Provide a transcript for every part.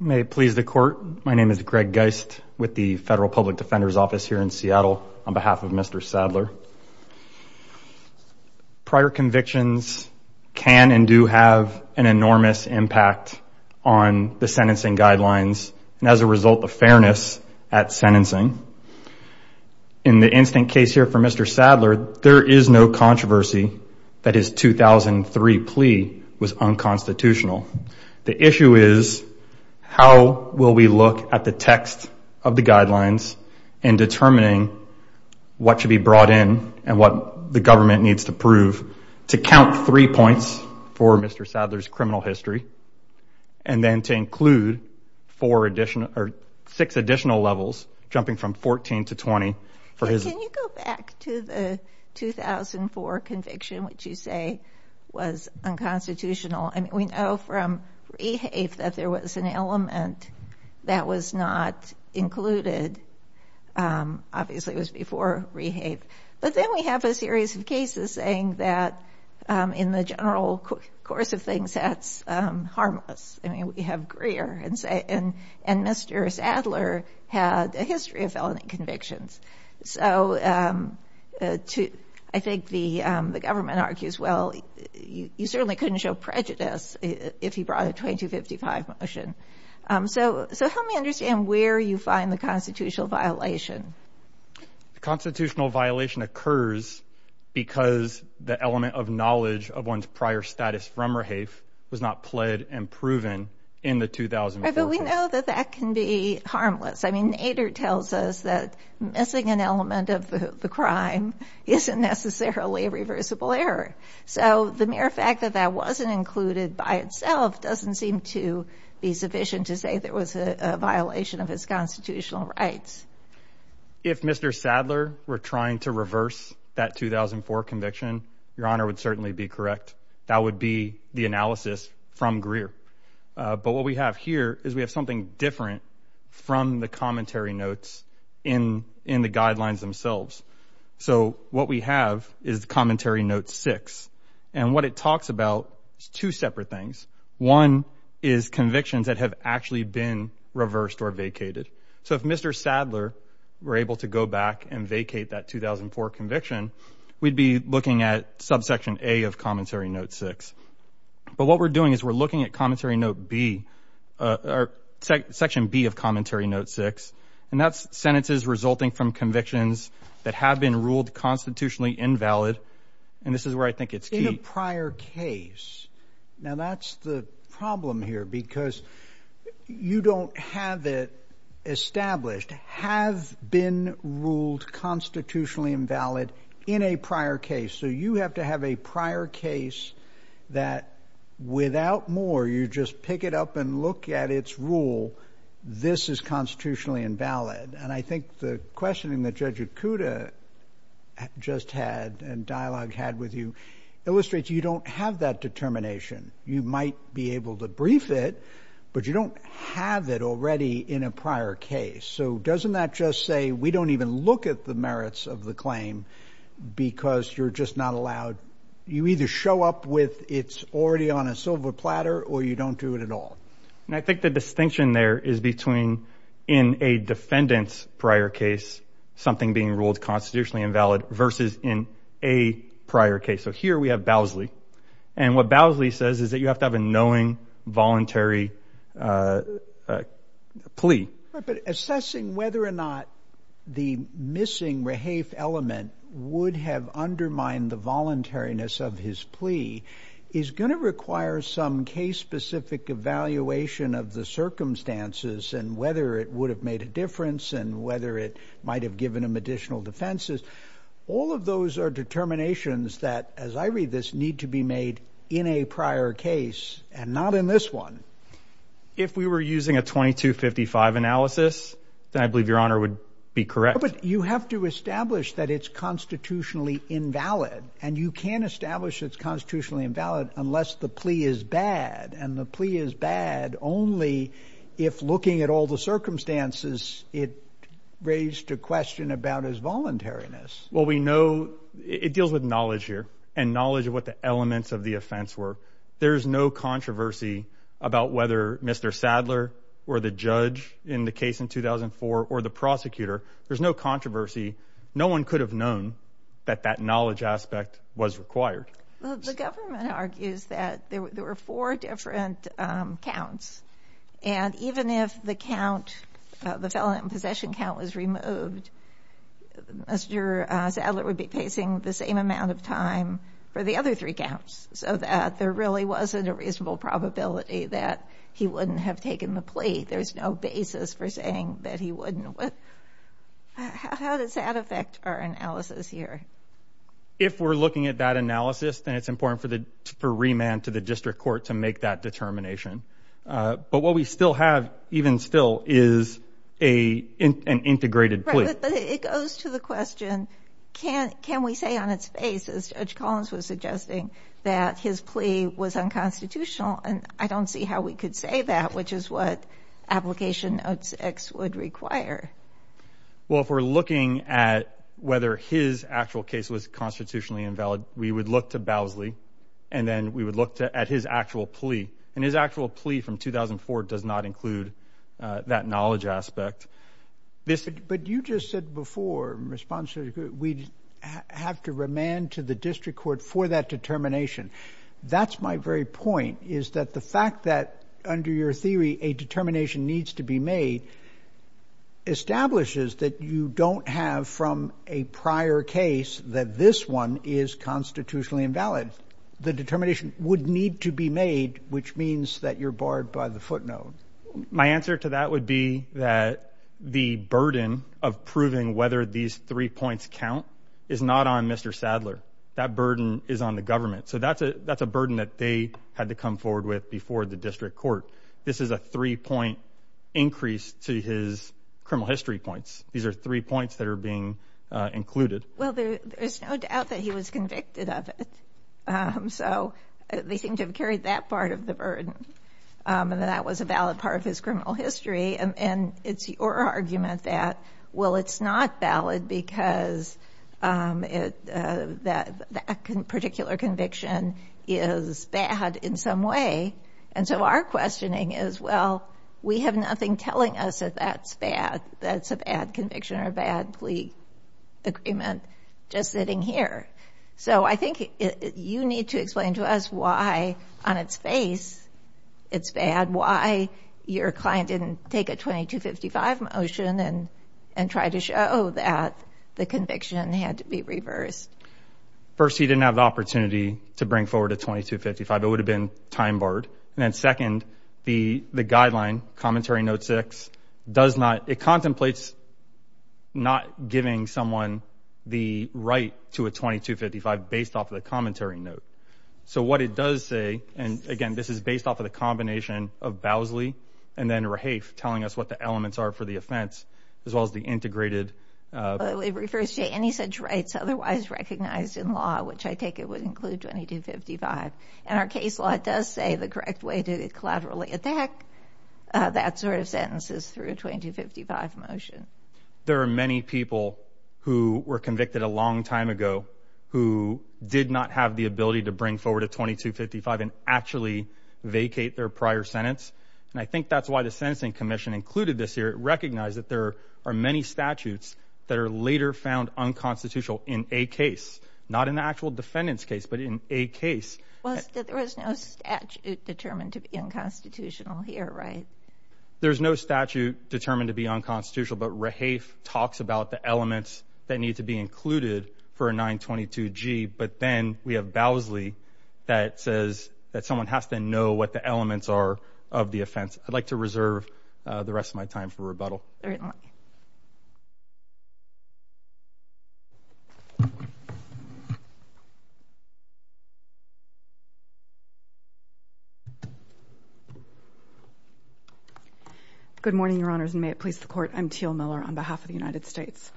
May it please the court, my name is Greg Geist with the Federal Public Defender's Office here in Seattle on behalf of Mr. Sadler. Prior convictions can and do have an enormous impact on the sentencing guidelines and as a result the fairness at sentencing. In the instant case here for Mr. Sadler, there is no controversy that his 2003 plea was unconstitutional. The issue is how will we look at the text of the guidelines in determining what should be brought in and what the government needs to prove to count three points for Mr. Sadler's criminal history and then to include four additional or six additional levels jumping from 14 to 20 for his. Can you go back to the 2004 conviction, which you say was unconstitutional? We know from REHAVE that there was an element that was not included, obviously it was before REHAVE. But then we have a series of cases saying that in the general course of things that's harmless. I mean we have Greer and Mr. Sadler had a history of felony convictions. So I think the government argues, well, you certainly couldn't show prejudice if he brought a 2255 motion. So help me understand where you find the constitutional violation. The constitutional violation occurs because the element of knowledge of one's prior status from REHAVE was not pled and proven in the 2004 conviction. We know that that can be harmless. I mean, Nader tells us that missing an element of the crime isn't necessarily a reversible error. So the mere fact that that wasn't included by itself doesn't seem to be sufficient to say there was a violation of his constitutional rights. If Mr. Sadler were trying to reverse that 2004 conviction, your honor would certainly be correct. That would be the analysis from Greer. But what we have here is we have something different from the commentary notes in the guidelines themselves. So what we have is commentary note six. And what it talks about is two separate things. One is convictions that have actually been reversed or vacated. So if Mr. Sadler were able to go back and vacate that 2004 conviction, we'd be looking at subsection A of commentary note six. But what we're doing is we're looking at commentary note B, or section B of commentary note six. And that's sentences resulting from convictions that have been ruled constitutionally invalid. And this is where I think it's key. In a prior case. Now that's the problem here because you don't have it established, have been ruled constitutionally invalid in a prior case. So you have to have a prior case that without more you just pick it up and look at its rule. This is constitutionally invalid. And I think the questioning that Judge Okuda just had and dialogue had with you illustrates you don't have that determination. You might be able to brief it, but you don't have it already in a prior case. So doesn't that just say we don't even look at the merits of the claim because you're just not allowed, you either show up with it's already on a silver platter or you don't do it at all. And I think the distinction there is between in a defendant's prior case, something being ruled constitutionally invalid versus in a prior case. So here we have Bowsley. And what Bowsley says is that you have to have a knowing voluntary plea. But assessing whether or not the missing rehafe element would have undermined the voluntariness of his plea is going to require some case specific evaluation of the circumstances and whether it would have made a difference and whether it might have given him additional defenses. All of those are determinations that, as I read this, need to be made in a prior case and not in this one. If we were using a 2255 analysis, then I believe Your Honor would be correct. But you have to establish that it's constitutionally invalid and you can't establish it's constitutionally invalid unless the plea is bad. And the plea is bad only if looking at all the circumstances it raised a question about his voluntariness. Well, we know it deals with knowledge here and knowledge of what the elements of the offense were. There's no controversy about whether Mr. Sadler or the judge in the case in 2004 or the prosecutor. There's no controversy. No one could have known that that knowledge aspect was required. Well, the government argues that there were four different counts. And even if the count, the felony and possession count was removed, Mr. Sadler would be facing the same amount of time for the other three counts so that there really wasn't a reasonable probability that he wouldn't have taken the plea. There's no basis for saying that he wouldn't. How does that affect our analysis here? If we're looking at that analysis, then it's important for remand to the district court to make that determination. But what we still have, even still, is an integrated plea. But it goes to the question, can we say on its face, as Judge Collins was suggesting, that his plea was unconstitutional? And I don't see how we could say that, which is what application 06 would require. Well, if we're looking at whether his actual case was constitutionally invalid, we would look to Bowsley and then we would look at his actual plea. And his actual plea from 2004 does not include that knowledge aspect. But you just said before, in response to your question, we'd have to remand to the district court for that determination. That's my very point, is that the fact that, under your theory, a determination needs to be made establishes that you don't have from a prior case that this one is constitutionally invalid. The determination would need to be made, which means that you're barred by the footnote. My answer to that would be that the burden of proving whether these three points count is not on Mr. Sadler. That burden is on the government. So that's a burden that they had to come forward with before the district court. This is a three-point increase to his criminal history points. These are three points that are being included. Well, there's no doubt that he was convicted of it. So they seem to have carried that part of the burden, and that was a valid part of his criminal history. And it's your argument that, well, it's not valid because that particular conviction is bad in some way. And so our questioning is, well, we have nothing telling us that that's bad, that's a bad conviction or a bad plea agreement, just sitting here. So I think you need to explain to us why, on its face, it's bad, why your client didn't take a 2255 motion and try to show that the conviction had to be reversed. First, he didn't have the opportunity to bring forward a 2255. It would have been time barred. And then second, the guideline, Commentary Note 6, does not – it contemplates not giving someone the right to a 2255 based off of the Commentary Note. So what it does say – and again, this is based off of the combination of Bowsley and then Rahafe telling us what the elements are for the offense, as well as the integrated – Well, it refers to any such rights otherwise recognized in law, which I take it would include 2255. And our case law does say the correct way to collaterally attack that sort of sentence is through a 2255 motion. There are many people who were convicted a long time ago who did not have the ability to bring forward a 2255 and actually vacate their prior sentence. And I think that's why the Sentencing Commission included this here. It recognized that there are many statutes that are later found unconstitutional in a case – not in the actual defendant's case, but in a case. Well, there was no statute determined to be unconstitutional here, right? There's no statute determined to be unconstitutional, but Rahafe talks about the elements that need to be included for a 922G. But then we have Bowsley that says that someone has to know what the elements are of the offense. I'd like to reserve the rest of my time for rebuttal. Good morning, Your Honors, and may it please the Court. I'm Teal Miller on behalf of the United States.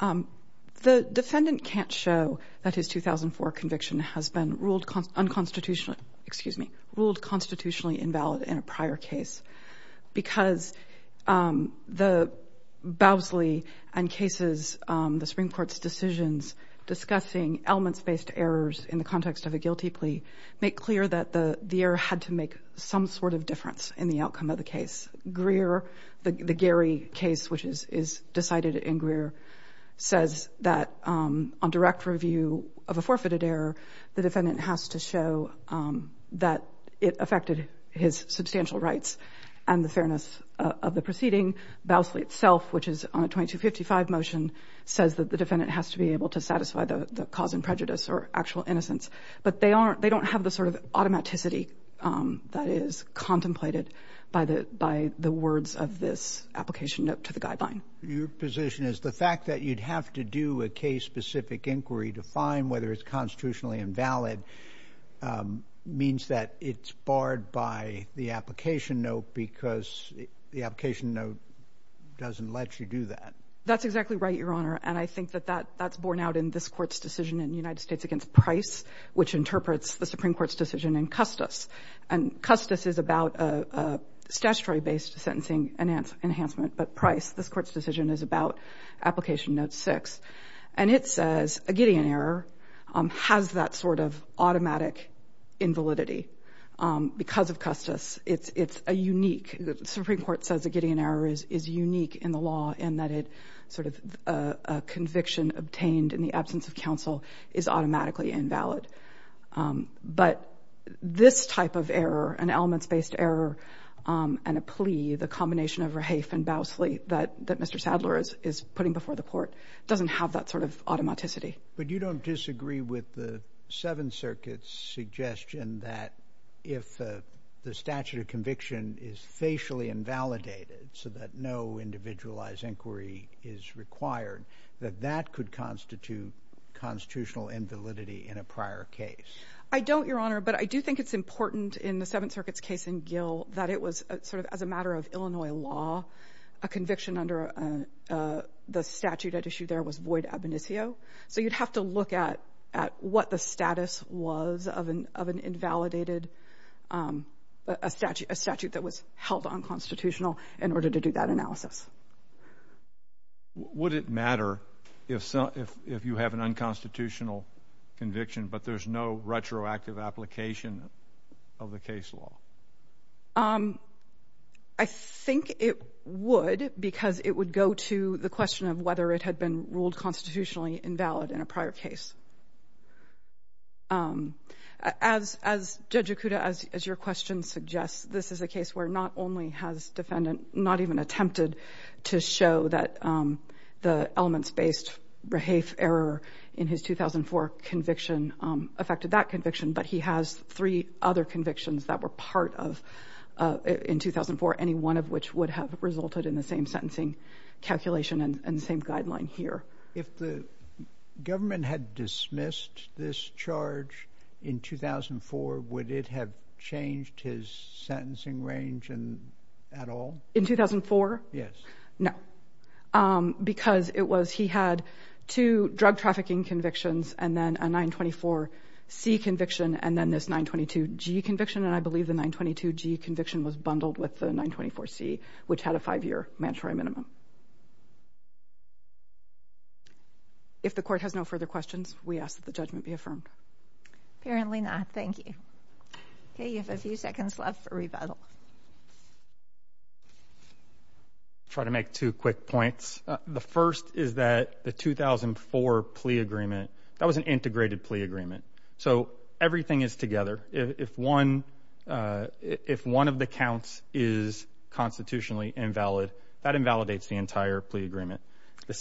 The defendant can't show that his 2004 conviction has been ruled unconstitutional – excuse me – ruled constitutionally invalid in a prior case because the – Bowsley and cases – the Supreme Court's decisions discussing elements-based errors in the context of a guilty plea make clear that the error had to make some sort of difference in the outcome of the case. Greer – the Gary case, which is decided in Greer – says that on direct review of a forfeited error, the defendant has to show that it affected his substantial rights and the fairness of the proceeding. Bowsley itself, which is on a 2255 motion, says that the defendant has to be able to satisfy the cause and prejudice or actual innocence. But they don't have the sort of automaticity that is contemplated by the words of this application note to the guideline. Your position is the fact that you'd have to do a case-specific inquiry to find whether it's constitutionally invalid means that it's barred by the application note because the application note doesn't let you do that. That's exactly right, Your Honor, and I think that that's borne out in this Court's decision in the United States against Price, which interprets the Supreme Court's decision in Custis. And Custis is about a statutory-based sentencing enhancement, but Price, this Court's decision is about application note 6. And it says a Gideon error has that sort of automatic invalidity because of Custis. It's a unique – the Supreme Court says a Gideon error is unique in the law in that it sort of – a conviction obtained in the absence of counsel is automatically invalid. But this type of error, an elements-based error, and a plea, the combination of Rahaf and Bowsley that Mr. Sadler is putting before the Court, doesn't have that sort of automaticity. But you don't disagree with the Seventh Circuit's suggestion that if the statute of conviction is facially invalidated so that no individualized inquiry is required, that that could constitute constitutional invalidity in a prior case? I don't, Your Honor, but I do think it's important in the Seventh Circuit's case in Gill that it was sort of as a matter of Illinois law, a conviction under the statute at issue there was void ab initio. So you'd have to look at what the status was of an invalidated – a statute that was held unconstitutional in order to do that analysis. Would it matter if you have an unconstitutional conviction but there's no retroactive application of the case law? I think it would because it would go to the question of whether it had been ruled constitutionally invalid in a prior case. As Judge Okuda, as your question suggests, this is a case where not only has defendant not even attempted to show that the elements-based Rahaf error in his 2004 conviction affected that conviction, but he has three other convictions that were part of – in 2004, any one of which would have resulted in the same sentencing calculation and the same guideline here. If the government had dismissed this charge in 2004, would it have changed his sentencing range at all? In 2004? Yes. No. Because it was – he had two drug trafficking convictions and then a 924C conviction and then this 922G conviction, and I believe the 922G conviction was bundled with the 924C, which had a five-year mandatory minimum. If the court has no further questions, we ask that the judgment be affirmed. Apparently not. Thank you. Okay, you have a few seconds left for rebuttal. Try to make two quick points. The first is that the 2004 plea agreement, that was an integrated plea agreement. So everything is together. If one – if one of the counts is constitutionally invalid, that invalidates the entire plea agreement.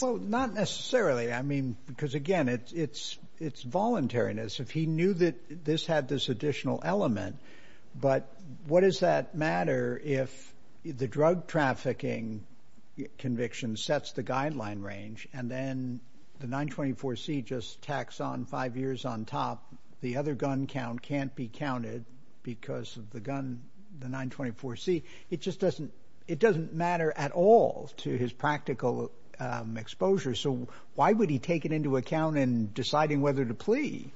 Well, not necessarily, I mean, because again, it's voluntariness. If he knew that this had this additional element, but what does that matter if the drug trafficking conviction sets the guideline range and then the 924C just tacks on five years on top, the other gun count can't be counted because of the gun, the 924C. It just doesn't – it doesn't matter at all to his practical exposure. So why would he take it into account in deciding whether to plea?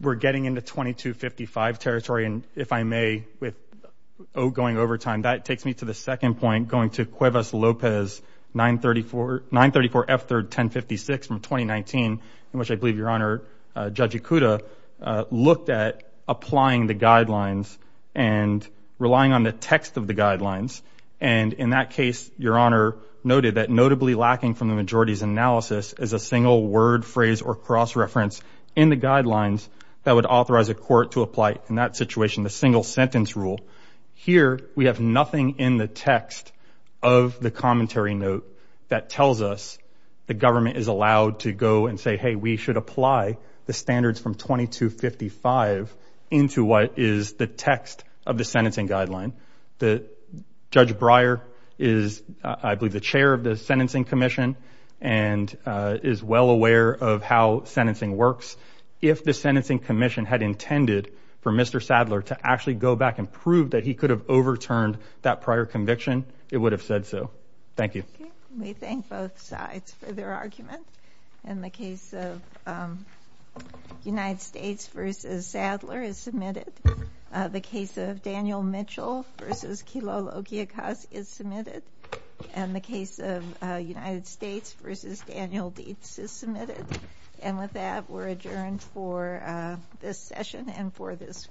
We're getting into 2255 territory, and if I may, with outgoing overtime, that takes me to the second point, going to Cuevas-Lopez, 934F1056 from 2019, in which I believe Your Honor noted that notably lacking from the majority's analysis is a single word, phrase, or cross-reference in the guidelines that would authorize a court to apply in that situation the single-sentence rule. Here we have nothing in the text of the commentary note that tells us the government is allowed to go and say, hey, we should apply the standards from 2255 into what is the text of the sentencing guideline. The – Judge Breyer is, I believe, the chair of the Sentencing Commission and is well aware of how sentencing works. If the Sentencing Commission had intended for Mr. Sadler to actually go back and prove that he could have overturned that prior conviction, it would have said so. Thank you. We thank both sides for their argument. And the case of United States v. Sadler is submitted. The case of Daniel Mitchell v. Kilolo-Okiakos is submitted. And the case of United States v. Daniel Dietz is submitted. And with that, we're adjourned for this session and for this week.